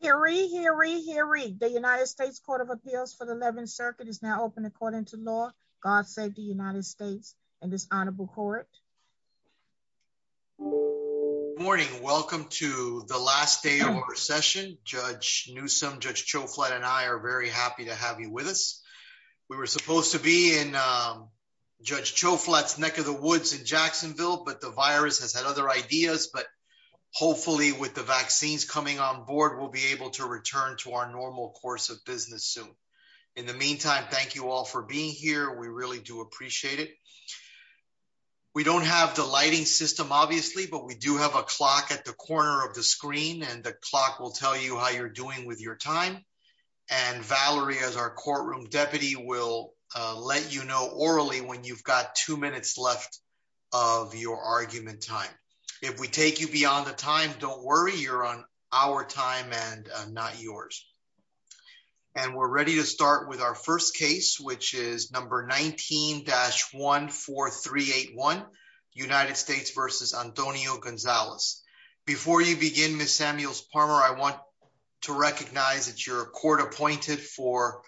Hear ye, hear ye, hear ye. The United States Court of Appeals for the 11th Circuit is now open according to law. God save the United States and this honorable court. Good morning. Welcome to the last day of our session. Judge Newsom, Judge Choflat and I are very happy to have you with us. We were supposed to be in Judge Choflat's neck of the woods in be able to return to our normal course of business soon. In the meantime, thank you all for being here. We really do appreciate it. We don't have the lighting system, obviously, but we do have a clock at the corner of the screen and the clock will tell you how you're doing with your time. And Valerie, as our courtroom deputy, will let you know orally when you've got two minutes left of your argument time. If we take you beyond the time, don't worry, you're on our time and not yours. And we're ready to start with our first case, which is number 19-14381, United States v. Antonio Gonzalez. Before you begin, Ms. Samuels-Parmer, I want to recognize that you're a court appointed for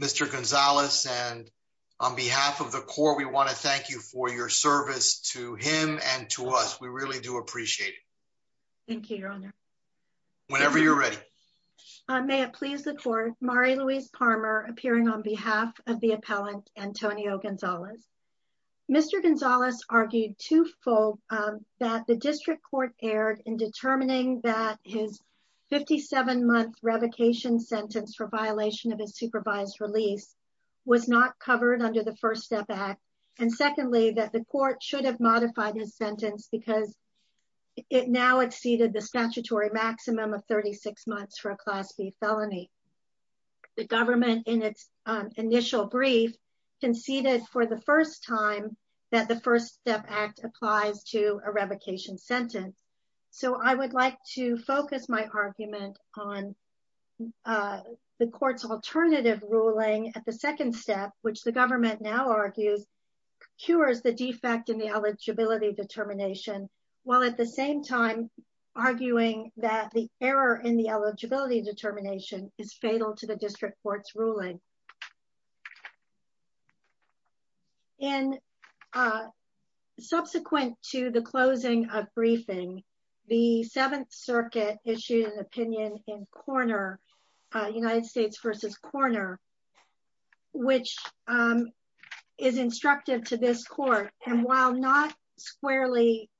Mr. Gonzalez and on behalf of the court, we want to thank you for your service to him and to us. We really do appreciate it. Thank you, Your Honor. Whenever you're ready. May it please the court, Mari-Louise Parmer appearing on behalf of the appellant Antonio Gonzalez. Mr. Gonzalez argued two-fold that the district court erred in determining that his 57-month revocation sentence for violation of his supervised release was not covered under the First Step Act. And secondly, that the court should have modified his sentence because it now exceeded the statutory maximum of 36 months for a Class B felony. The government, in its initial brief, conceded for the first time that the First Step Act applies to a revocation sentence. So I would like to focus my argument on the court's alternative ruling at the second step, which the government now argues cures the defect in the eligibility determination, while at the same time arguing that the error in the eligibility determination is fatal to the district court's ruling. And subsequent to the closing of briefing, the Seventh Circuit issued an opinion in Korner, United States versus Korner, which is instructive to this court. And while not squarely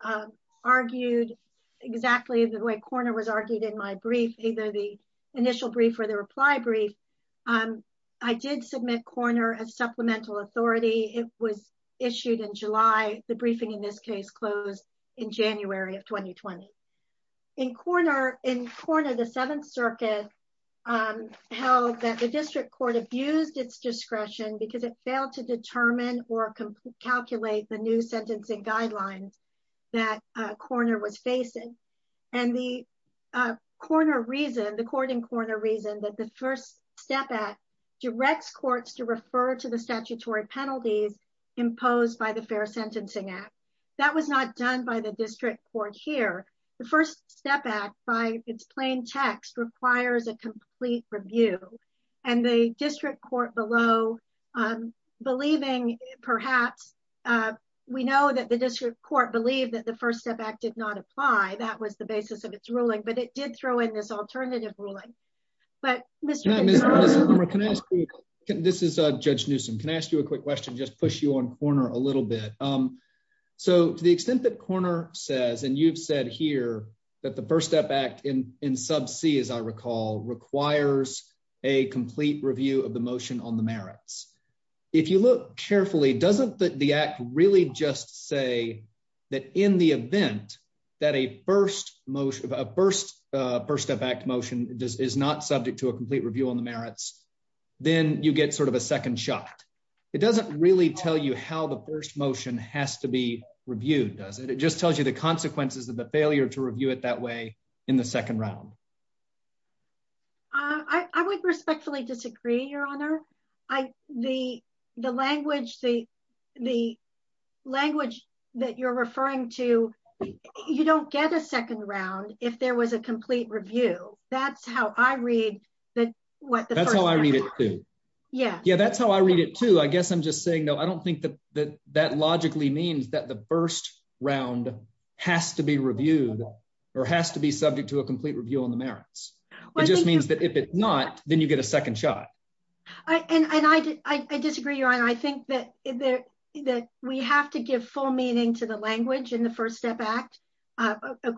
argued exactly the way Korner was argued in my brief, either the initial brief or the reply brief, I did submit Korner as supplemental authority. It was issued in July. The briefing in this case closed in January of 2020. In Korner, the Seventh Circuit held that the district court abused its discretion because it failed to determine or calculate the new sentencing guidelines that Korner was facing. And the Korner reason, the court in Korner reasoned that the First Step Act directs courts to refer to the statutory penalties imposed by the Fair Sentencing Act. That was not done by the district court here. The First Step Act, by its plain text, requires a complete review. And the district court below, believing perhaps, we know that the district court believed that the First Step Act did not apply. That was the basis of its ruling. But it did throw in this alternative ruling. But Mr. Can I ask you, this is Judge Newsom. Can I ask you a question? So to the extent that Korner says, and you've said here that the First Step Act in sub C, as I recall, requires a complete review of the motion on the merits. If you look carefully, doesn't the act really just say that in the event that a First Step Act motion is not subject to a complete review on the merits, then you get sort of a second shot. It doesn't really tell you how the first motion has to be reviewed, does it? It just tells you the consequences of the failure to review it that way in the second round. I would respectfully disagree, Your Honor. The language that you're referring to, you don't get a second round if there was a complete review. That's how I read that. That's how I read it too. Yeah, that's how I read it too. I guess I'm just saying, though, I don't think that that logically means that the first round has to be reviewed or has to be subject to a complete review on the merits. It just means that if it's not, then you get a second shot. And I disagree, Your Honor. I think that we have to give full meaning to the language in the First Step Act.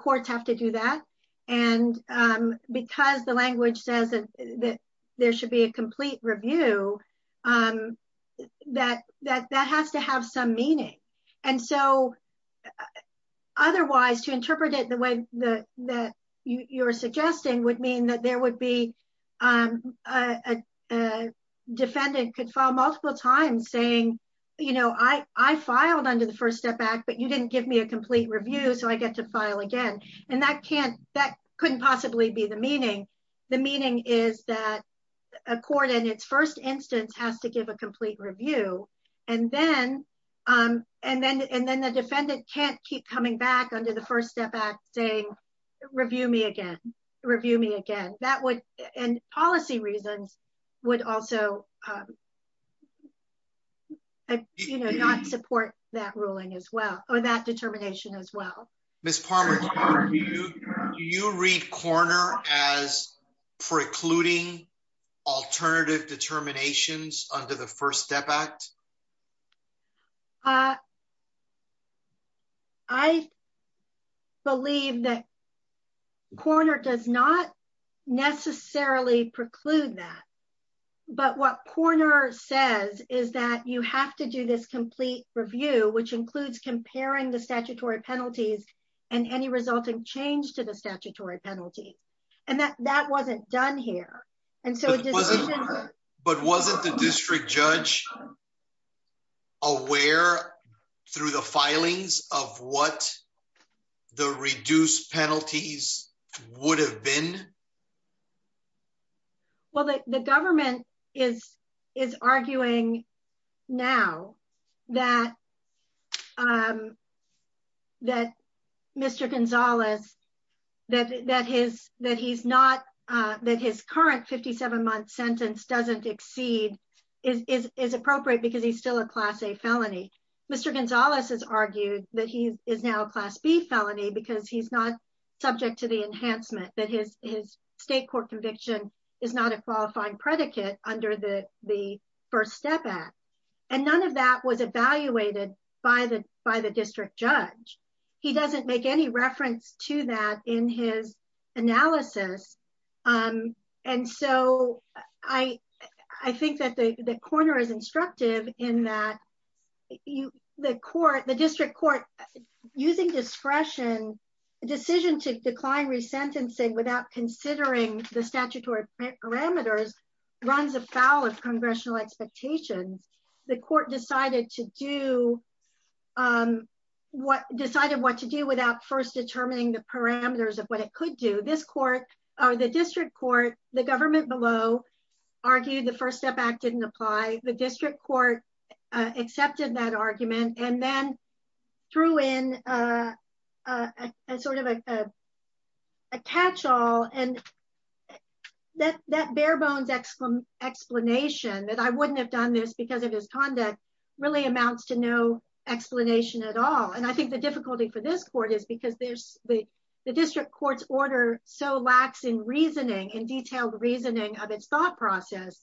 Courts have to do that. And because the language says that there should be a complete review, that has to have some meaning. Otherwise, to interpret it the way that you're suggesting would mean that a defendant could file multiple times saying, I filed under the First Step Act, but you didn't give me a complete review, so I get to file again. And that couldn't possibly be the meaning. The meaning is that a court, in its first instance, has to give a complete review. And then the defendant can't keep coming back under the First Step Act saying, review me again, review me again. And policy reasons would also not support that ruling as well, or that determination as well. Ms. Palmer, do you read Korner as precluding alternative determinations under the First Step Act? I believe that Korner does not necessarily preclude that. But what Korner says is that you have to do this complete review, which includes comparing the statutory penalties and any resulting change to the statutory penalty. And that wasn't done here. But wasn't the district judge aware through the filings of what the reduced penalties would have been? Well, the government is arguing now that Mr. Gonzalez, that his current 57-month sentence doesn't exceed, is appropriate because he's still a Class A felony. Mr. Gonzalez has argued that he is now a Class B felony because he's not subject to the enhancement, that his state court conviction is not a qualifying predicate under the First Step Act. And none of that was evaluated by the district judge. He doesn't make any reference to that in his analysis. And so I think that Korner is instructive in that the district court, using discretion, decision to decline resentencing without considering the statutory parameters, runs afoul of congressional expectations. The court decided what to do without first or the district court. The government below argued the First Step Act didn't apply. The district court accepted that argument and then threw in a sort of a catch-all. And that bare-bones explanation that I wouldn't have done this because of his conduct really amounts to no explanation at all. And I think the difficulty for this court is because the district court's order so lacks in reasoning, in detailed reasoning of its thought process,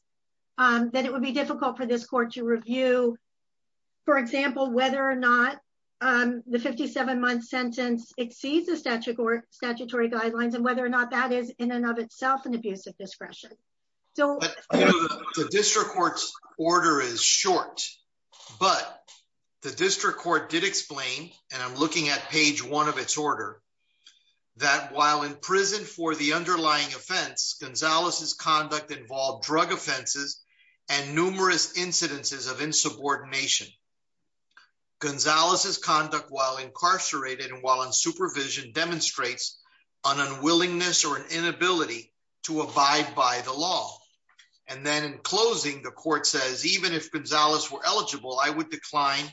that it would be difficult for this court to review, for example, whether or not the 57-month sentence exceeds the statutory guidelines, and whether or not that is in and of itself an abuse of discretion. The district court's order is short, but the district court did explain, and I'm looking at page one of its order, that while in prison for the underlying offense, Gonzalez's conduct involved drug offenses and numerous incidences of insubordination. Gonzalez's conduct while incarcerated and while in supervision demonstrates an unwillingness or an inability to abide by the law. And then in closing, the court says, even if Gonzalez were eligible, I would decline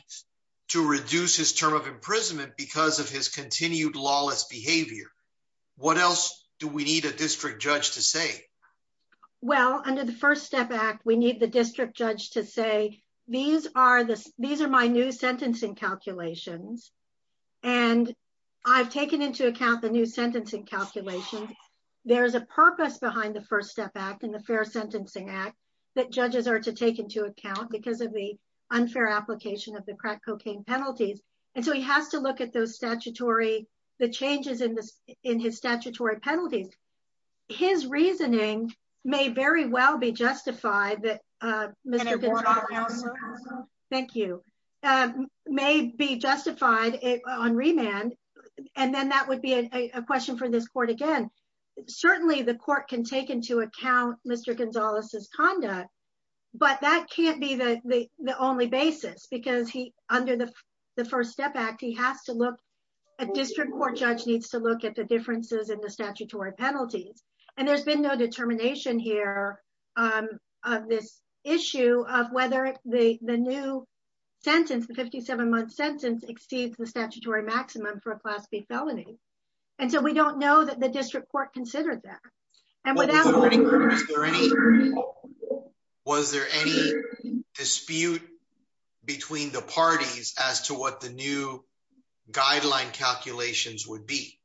to reduce his term of imprisonment because of his continued lawless behavior. What else do we need a district judge to say? Well, under the First Step Act, we need the district judge to say, these are my new sentencing calculations, and I've taken into account the new sentencing calculations. There's a purpose behind the First Step Act and the Fair Sentencing Act that judges are to take into account because of the unfair application of the crack cocaine penalties. And so he has to look at the changes in his statutory penalties. His reasoning may very well be justified on remand, and then that would be a question for this court again. Certainly, the court can take into account Mr. Gonzalez's conduct, but that can't be the only basis because under the First Step Act, he has to look, a district court judge needs to look at the differences in the statutory penalties. And there's been no determination here of this issue of whether the new sentence, the 57-month sentence exceeds the statutory maximum for a class B felony. And so we don't know that the district court considered that. Was there any dispute between the parties as to what the new guideline calculations would be?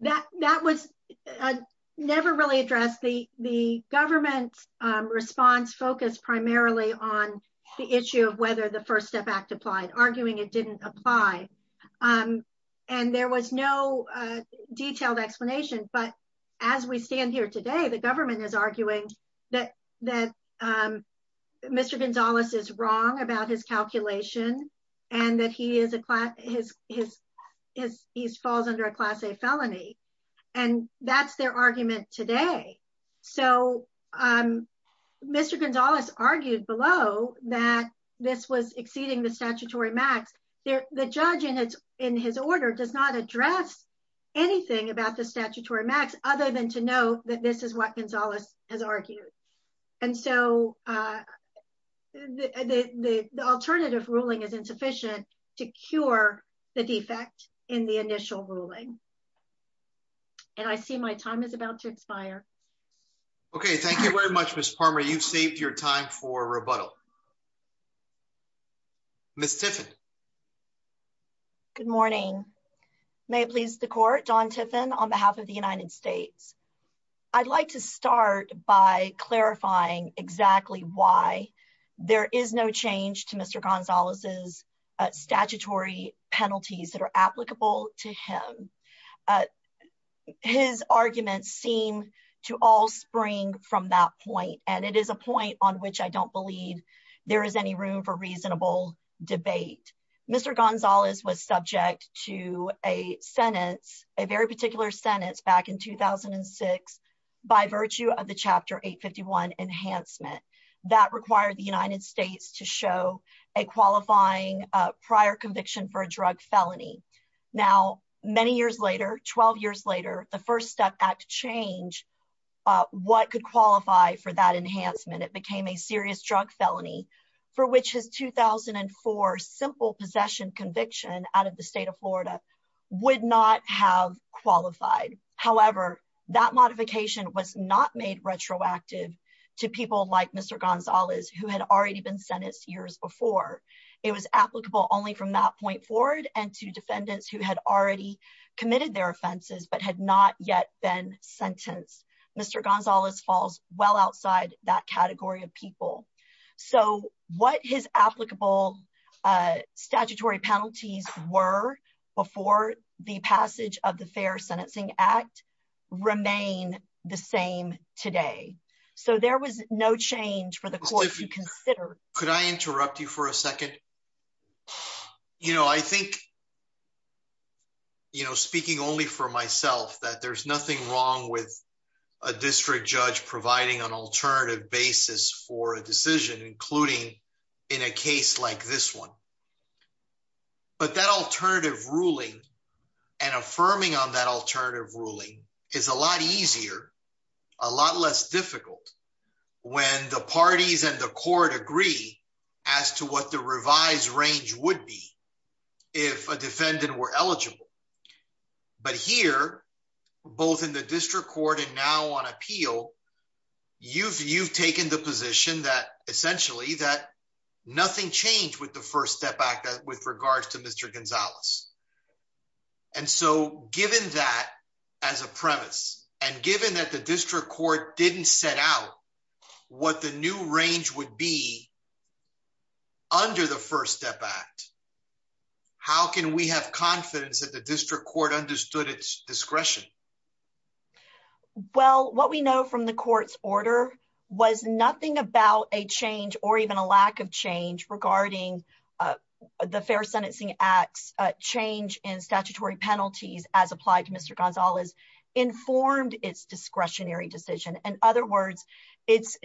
That was never really addressed. The government response focused primarily on the issue of whether the First Step Act applied, arguing it didn't apply. And there was no detailed explanation. But as we stand here today, the government is arguing that Mr. Gonzalez is wrong about his calculation and that he falls under a class A felony. And that's their argument today. So Mr. Gonzalez argued below that this was exceeding the statutory max. The judge in his order does not address anything about the statutory max other than to know that this is what Gonzalez has argued. And so the alternative ruling is insufficient to cure the defect in the initial ruling. And I see my time is about to expire. Okay. Thank you very much, Ms. Palmer. You've saved your time for rebuttal. Ms. Tiffin. Good morning. May it please the court, Don Tiffin on behalf of the United States. I'd like to start by clarifying exactly why there is no change to Mr. Gonzalez's penalties that are applicable to him. His arguments seem to all spring from that point. And it is a point on which I don't believe there is any room for reasonable debate. Mr. Gonzalez was subject to a sentence, a very particular sentence back in 2006, by virtue of the Chapter Enhancement that required the United States to show a qualifying prior conviction for a drug felony. Now, many years later, 12 years later, the First Step Act change what could qualify for that enhancement. It became a serious drug felony for which his 2004 simple possession conviction out of the state of Florida would not have qualified. However, that modification was not made retroactive to people like Mr. Gonzalez, who had already been sentenced years before. It was applicable only from that point forward and to defendants who had already committed their offenses but had not yet been sentenced. Mr. Gonzalez falls well outside that category of people. So what his applicable statutory penalties were before the passage of the today. So there was no change for the court to consider. Could I interrupt you for a second? You know, I think, you know, speaking only for myself, that there's nothing wrong with a district judge providing an alternative basis for a decision, including in a case like this one. But that alternative ruling and affirming on that alternative ruling is a lot easier a lot less difficult when the parties and the court agree as to what the revised range would be if a defendant were eligible. But here, both in the district court and now on appeal, you've you've taken the position that essentially that nothing changed with the First Step Act with regards to Mr. Gonzalez. And so given that, as a premise, and given that the district court didn't set out what the new range would be under the First Step Act, how can we have confidence that the district court understood its discretion? Well, what we know from the court's order was nothing about a change or even a lack of change regarding the Fair Sentencing Act's change in statutory penalties as applied to Mr. Gonzalez informed its discretionary decision. In other words, its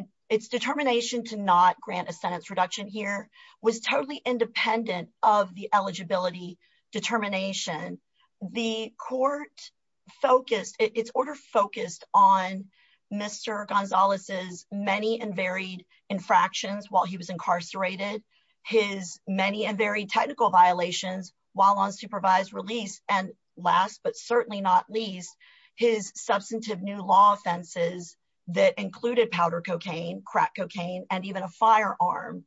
determination to not grant a sentence reduction here was totally independent of the eligibility determination. The court focused, its order focused on Mr. Gonzalez's many and varied infractions while he was incarcerated, his many and very technical violations while on supervised release, and last but certainly not least, his substantive new law offenses that included powder cocaine, crack cocaine, and even a firearm.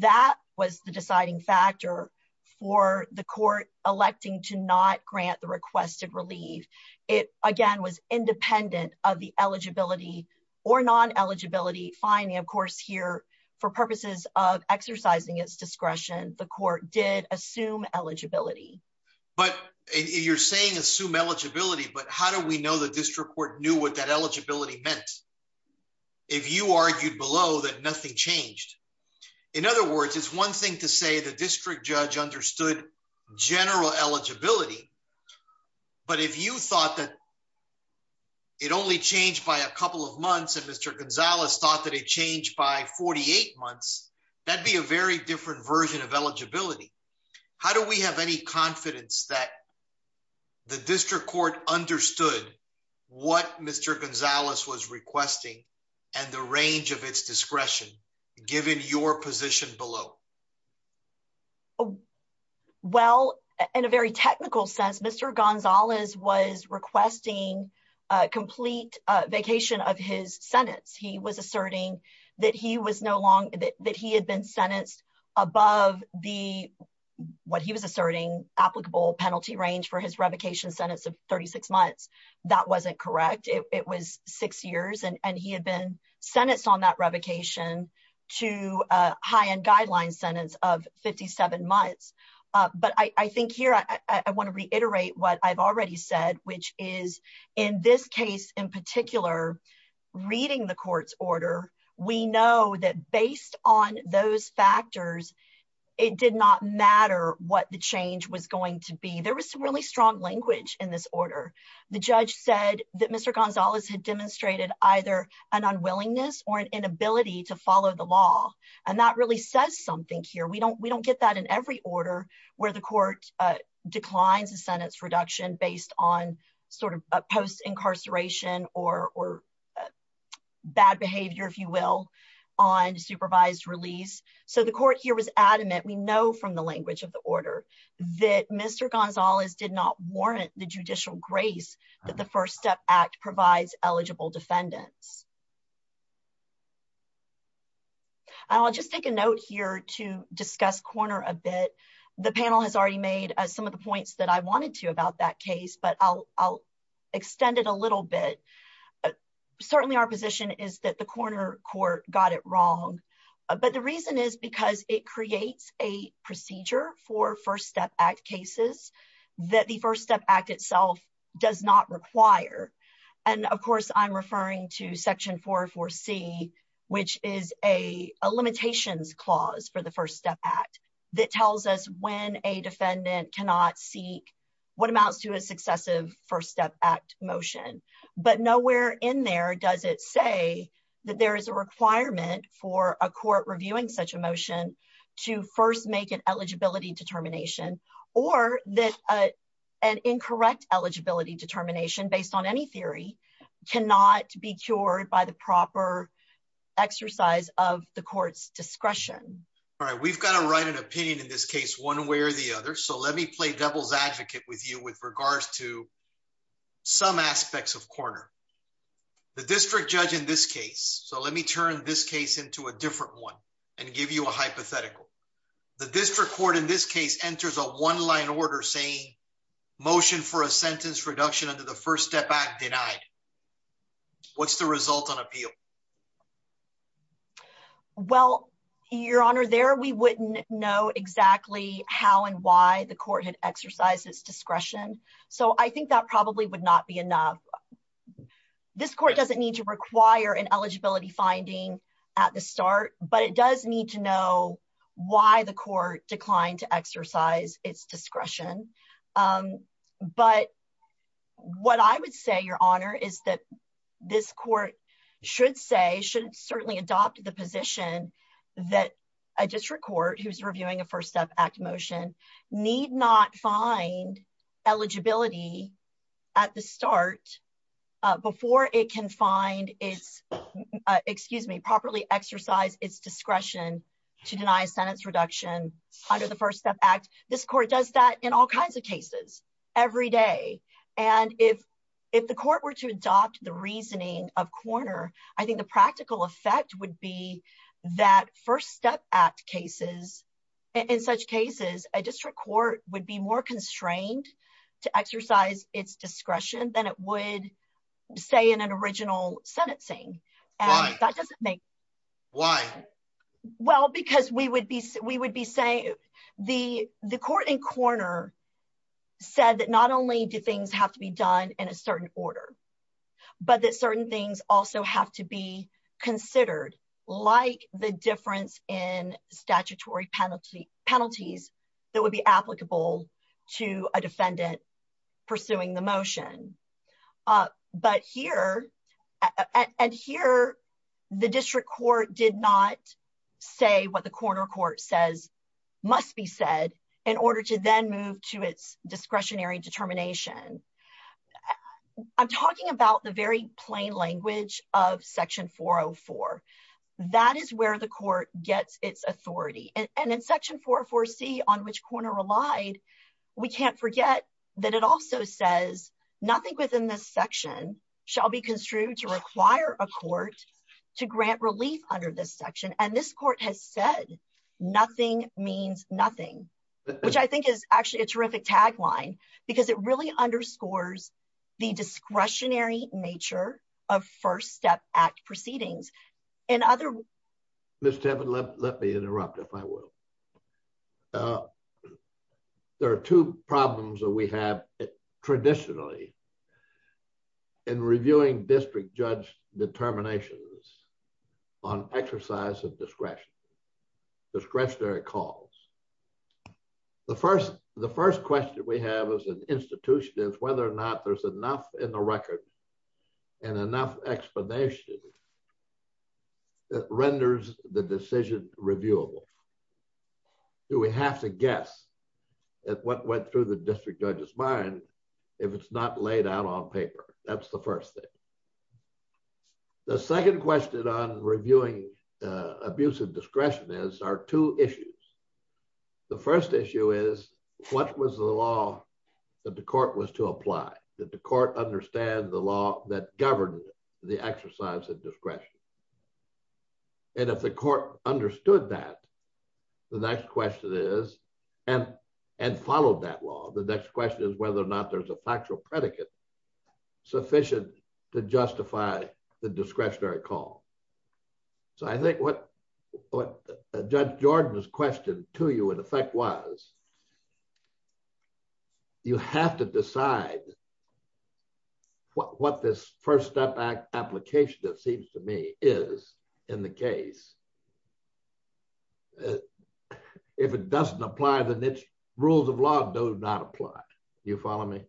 That was the deciding factor for the court electing to not grant the requested relief. It, again, was independent of the eligibility or non-eligibility finding, of course, here for purposes of exercising its discretion, the court did assume eligibility. But you're saying assume eligibility, but how do we know the district court knew what that eligibility meant if you argued below that nothing changed? In other words, it's one to say the district judge understood general eligibility, but if you thought that it only changed by a couple of months and Mr. Gonzalez thought that it changed by 48 months, that'd be a very different version of eligibility. How do we have any confidence that the district court understood what Mr. Gonzalez was requesting and the range of its discretion given your position below? Well, in a very technical sense, Mr. Gonzalez was requesting a complete vacation of his sentence. He was asserting that he had been sentenced above the what he was asserting applicable penalty range for his revocation sentence of 36 months. That wasn't correct. It was six years and he had been sentenced on that revocation to a high-end guideline sentence of 57 months. But I think here, I want to reiterate what I've already said, which is in this case in particular, reading the court's order, we know that based on those factors, it did not matter what the change was going to be. There was some really strong language in this order. The judge said that Mr. Gonzalez had demonstrated either an unwillingness or an inability to follow the law. And that really says something here. We don't get that in every order where the court declines a sentence reduction based on post-incarceration or bad behavior, if you will, on supervised release. So the court here was adamant, we know from the language of the order, that Mr. Gonzalez did not warrant the judicial grace that the First Step Act provides eligible defendants. I'll just take a note here to discuss Corner a bit. The panel has already made some of the points that I wanted to about that case, but I'll extend it a little bit. Certainly our position is that the Corner court got it wrong. But the reason is because it creates a procedure for First Step Act cases that the First Step Act itself does not require. And of course, I'm referring to Section 404C, which is a limitations clause for the First Step Act that tells us when a defendant cannot seek what amounts to a successive First Step Act motion. But nowhere in there does it say that there is a requirement for a court reviewing such a motion to first make an eligibility determination or that an incorrect eligibility determination, based on any theory, cannot be cured by the proper exercise of the court's discretion. We've got to write an opinion in this case one way or the other. So let me play devil's The district judge in this case, so let me turn this case into a different one and give you a hypothetical. The district court in this case enters a one-line order saying motion for a sentence reduction under the First Step Act denied. What's the result on appeal? Well, Your Honor, there we wouldn't know exactly how and why the court had exercised its discretion. So I think that probably would not be enough. This court doesn't need to require an eligibility finding at the start, but it does need to know why the court declined to exercise its discretion. But what I would say, Your Honor, is that this court should say, should certainly adopt the that a district court who's reviewing a First Step Act motion need not find eligibility at the start before it can find its, excuse me, properly exercise its discretion to deny a sentence reduction under the First Step Act. This court does that in all kinds of cases every day. And if the court were to adopt the reasoning of Korner, I think the practical effect would be that First Step Act cases, in such cases, a district court would be more constrained to exercise its discretion than it would, say, in an original sentencing. And that doesn't make sense. Why? Well, because we would be saying, the court in Korner said that not only do things have to be done in a certain order, but that certain things also have to be considered, like the difference in statutory penalties that would be applicable to a defendant pursuing the motion. But here, and here, the district court did not say what the Korner court says must be said in order to then move to its discretionary determination. I'm talking about the very plain language of Section 404. That is where the court gets its authority. And in Section 404C, on which Korner relied, we can't forget that it also says, nothing within this section shall be construed to require a court to grant relief under this provision. So the district court has said, nothing means nothing, which I think is actually a terrific tagline, because it really underscores the discretionary nature of First Step Act proceedings. And other... Ms. Tevin, let me interrupt, if I will. There are two problems that we have, traditionally, in reviewing district judge determinations discretionary calls. The first question we have as an institution is whether or not there's enough in the record and enough explanation that renders the decision reviewable. Do we have to guess at what went through the district judge's mind if it's not laid out on paper? That's the discretion is, are two issues. The first issue is, what was the law that the court was to apply? Did the court understand the law that governed the exercise of discretion? And if the court understood that, the next question is, and followed that law, the next question is whether or not there's a factual predicate sufficient to justify the discretionary call. So I think what Judge Jordan's question to you, in effect, was, you have to decide what this First Step Act application, it seems to me, is in the case. If it doesn't apply, then its rules of law do not apply. You follow me?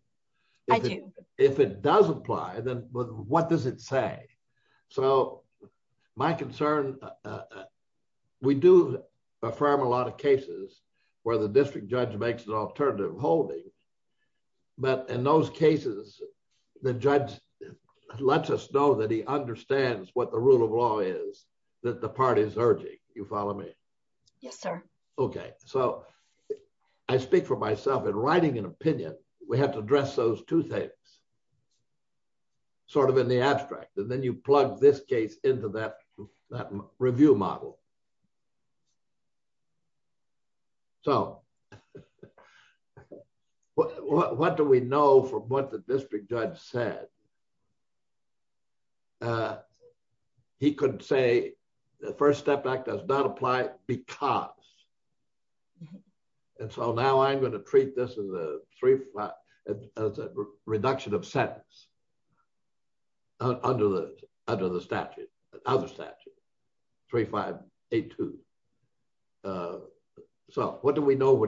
I do. If it does apply, then what does it say? So my concern, we do affirm a lot of cases where the district judge makes an alternative holding. But in those cases, the judge lets us know that he understands what the rule of law is that the party is urging. You follow me? Yes, sir. Okay, so I speak for myself. In writing an opinion, we have to address those two things, sort of in the abstract. And then you plug this case into that review model. So what do we know from what the district judge said? He could say the First Step Act does not apply because. And so now I'm going to treat this as a reduction of sentence under the statute, under statute 3582. So what do we know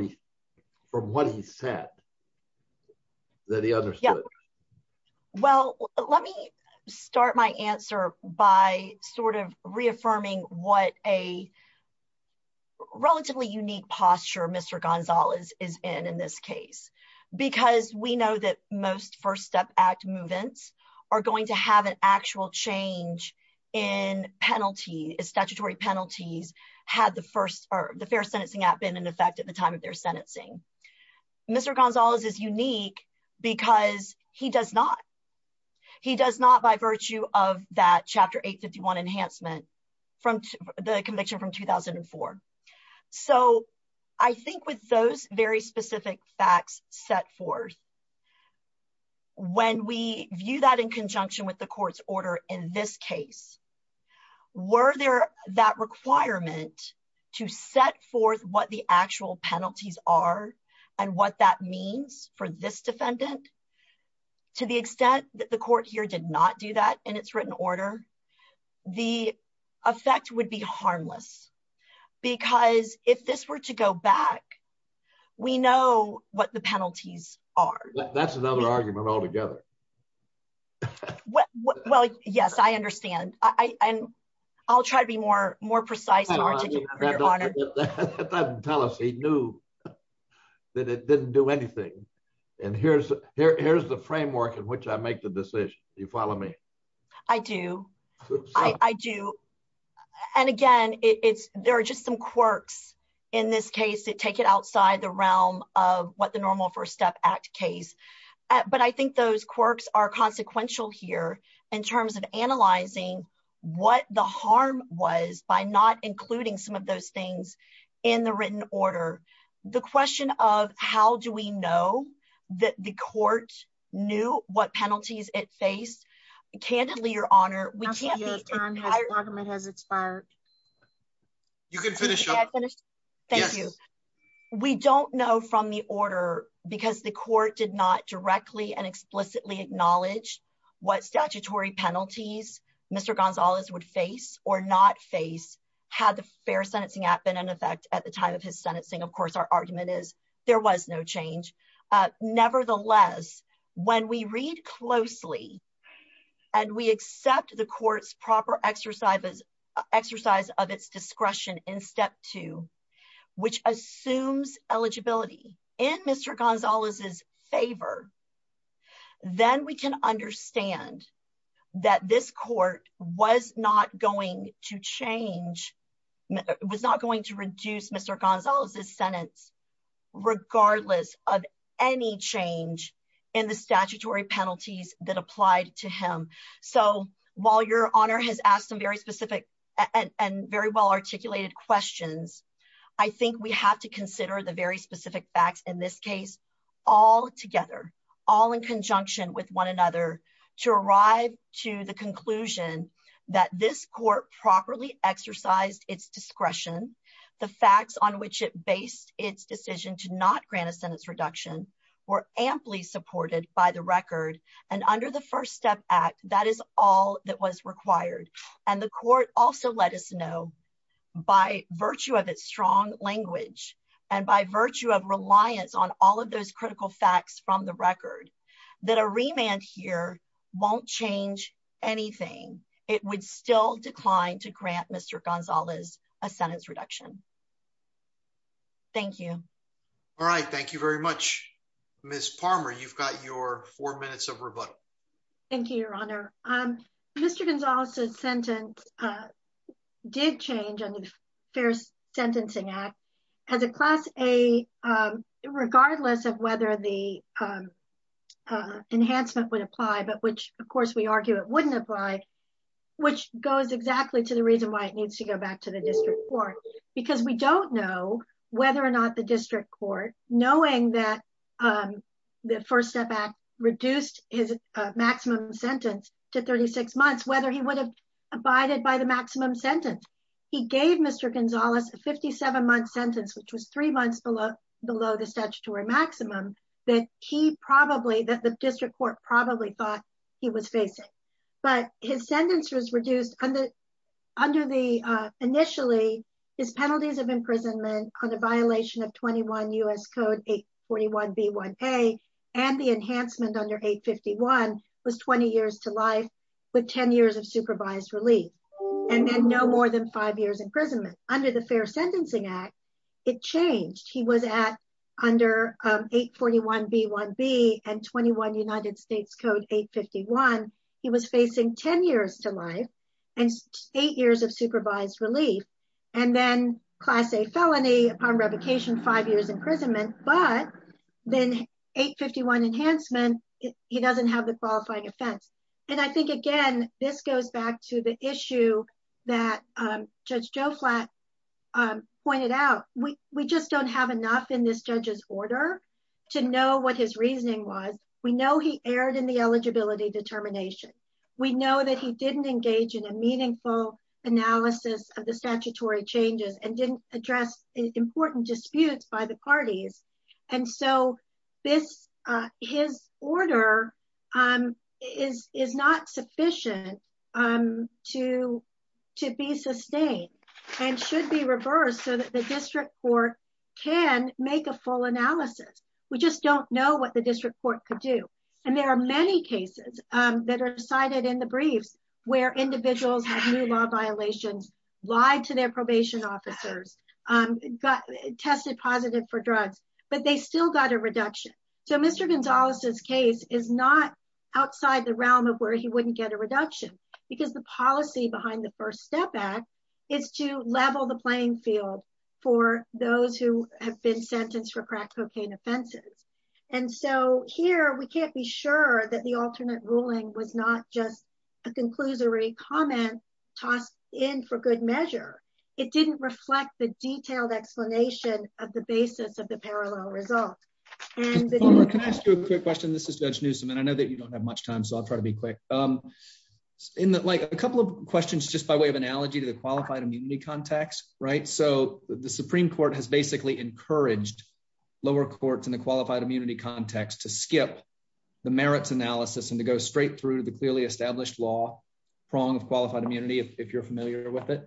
from what he said that he understood? Yeah, well, let me start my answer by sort of reaffirming what a relatively unique posture Mr. Gonzalez is in in this case, because we know that most First Step Act movements are going to have an actual change in penalty, statutory penalties, had the first or the fair sentencing act been in effect at the time of their sentencing. Mr. Gonzalez is unique because he does not. He does not by virtue of that Chapter 851 enhancement from the conviction from 2004. So I think with those very specific facts set forth, when we view that in conjunction with the court's order in this case, were there that requirement to set forth what the actual penalty would be for the defendant, to the extent that the court here did not do that in its written order, the effect would be harmless. Because if this were to go back, we know what the penalties are. That's another argument altogether. Well, yes, I understand. I'll try to be more precise. I'll tell us he knew that it didn't do anything. And here's the framework in which I make the decision. You follow me? I do. I do. And again, it's there are just some quirks in this case that take it outside the realm of what the normal First Step Act case. But I think those quirks are some of those things in the written order. The question of how do we know that the court knew what penalties it faced? Candidly, Your Honor, we can't. You can finish. Thank you. We don't know from the order because the court did not directly and explicitly acknowledge what statutory penalties Mr. Gonzalez would face or not face had the Fair Sentencing Act been in effect at the time of his sentencing. Of course, our argument is there was no change. Nevertheless, when we read closely and we accept the court's proper exercise of its discretion in Step 2, which assumes eligibility in Mr. Gonzalez's favor, then we can understand that this court was not going to change, was not going to reduce Mr. Gonzalez's sentence regardless of any change in the statutory penalties that applied to him. So while Your Honor has asked some very specific and very well articulated questions, I think we have to consider the very specific facts in this case all together, all in conjunction with one another to arrive to the conclusion that this court properly exercised its discretion. The facts on which it based its decision to not grant a sentence reduction were amply supported by the record. And under the First Step Act, that is all that was required. And the court also let know by virtue of its strong language and by virtue of reliance on all of those critical facts from the record that a remand here won't change anything. It would still decline to grant Mr. Gonzalez a sentence reduction. Thank you. All right. Thank you very much, Ms. Palmer. You've got your four minutes of rebuttal. Thank you, Your Honor. Mr. Gonzalez's sentence did change under the Fair Sentencing Act as a Class A, regardless of whether the enhancement would apply, but which, of course, we argue it wouldn't apply, which goes exactly to the reason why it needs to go back to the district court, because we don't know whether or not the district court, knowing that the First Step Act reduced his abided by the maximum sentence, he gave Mr. Gonzalez a 57-month sentence, which was three months below the statutory maximum that he probably, that the district court probably thought he was facing. But his sentence was reduced under the, initially, his penalties of imprisonment on the violation of 21 U.S. Code 841B1A and the enhancement under 851 was 20 years to life, with 10 years of supervised relief, and then no more than five years imprisonment. Under the Fair Sentencing Act, it changed. He was at, under 841B1B and 21 United States Code 851, he was facing 10 years to life and eight years of supervised relief, and then Class A felony upon revocation, five years imprisonment, but then 851 enhancement, he doesn't have the qualifying offense. And I think, again, this goes back to the issue that Judge Joe Flatt pointed out. We just don't have enough in this judge's order to know what his reasoning was. We know he erred in the eligibility determination. We know that he didn't engage in a meaningful analysis of the statutory changes and didn't address important disputes by the parties. And so this, his order is not sufficient to be sustained and should be reversed so that the district court can make a full analysis. We just don't know what the district court could do. And there are many cases that are cited in the briefs where individuals have new law violations, lied to their probation officers, tested positive for drugs, but they still got a reduction. So Mr. Gonzalez's case is not outside the realm of where he wouldn't get a reduction because the policy behind the First Step Act is to level the playing field for those who have been sentenced for crack cocaine offenses. And so here we can't be sure that the comment tossed in for good measure, it didn't reflect the detailed explanation of the basis of the parallel result. Can I ask you a quick question? This is Judge Newsom, and I know that you don't have much time, so I'll try to be quick. A couple of questions just by way of analogy to the qualified immunity context, right? So the Supreme Court has basically encouraged lower courts in the qualified immunity context to skip the merits analysis and to go straight through the clearly established law prong of qualified immunity, if you're familiar with it.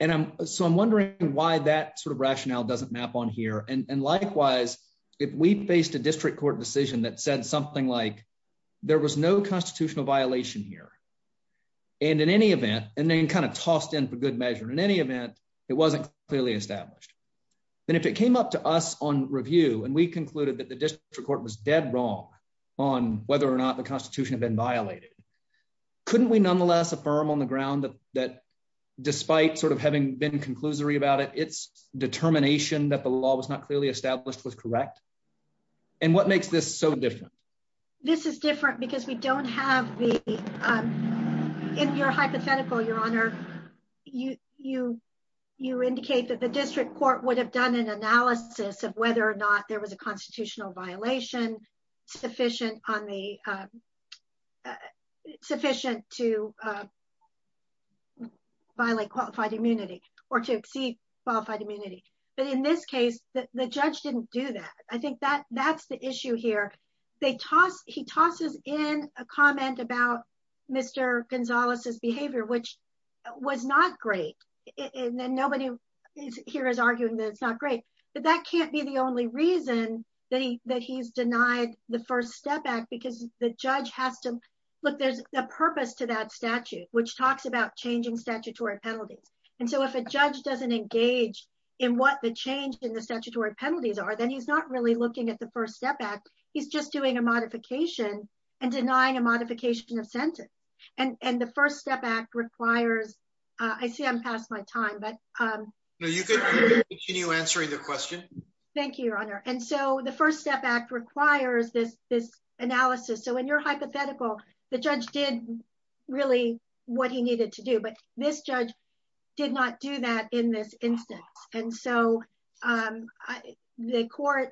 And so I'm wondering why that sort of rationale doesn't map on here. And likewise, if we faced a district court decision that said something like, there was no constitutional violation here, and in any event, and then kind of tossed in for good measure, in any event, it wasn't clearly established. Then if it came up to us on review, and we concluded that the district court was dead wrong on whether or not the Constitution had been violated, couldn't we nonetheless affirm on the ground that despite sort of having been conclusory about it, its determination that the law was not clearly established was correct? And what makes this so different? This is different because we don't have the, in your hypothetical, your honor, you indicate that the district court would have done an analysis of whether or not there was a constitutional violation sufficient to violate qualified immunity, or to exceed qualified immunity. But in this case, the judge didn't do that. I think that that's the issue here. He tosses in a comment about Mr. Gonzalez's behavior, which was not great. And nobody here is arguing that it's not great. But that can't be the only reason that he's denied the First Step Act, because the judge has to, look, there's a purpose to that statute, which talks about changing statutory penalties. And so if a judge doesn't engage in what the change in the statutory penalties are, then he's not really looking at the First Step Act. He's just doing a modification and denying a modification of sentence. And the First Step Act requires, I see I'm past my time, but you can continue answering the question. Thank you, your honor. And so the First Step Act requires this, this analysis. So in your hypothetical, the judge did really what he needed to do, but this judge did not do that in this instance. And so the court,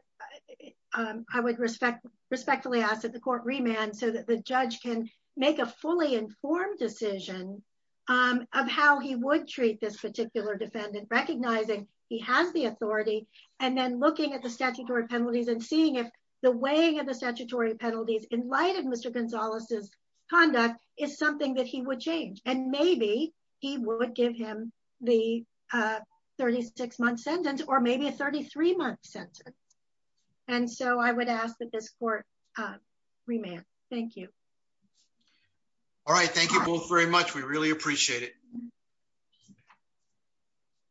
I would respect, respectfully ask that the court remand so that the judge can make a fully informed decision of how he would treat this particular defendant, recognizing he has the authority, and then looking at the statutory penalties and seeing if the weighing of the statutory penalties in light of Mr. Gonzalez's conduct is something that he would change. And maybe he would give him the 36-month sentence or maybe a 33-month sentence. And so I would ask that this court remand. Thank you. All right. Thank you both very much. We really appreciate it.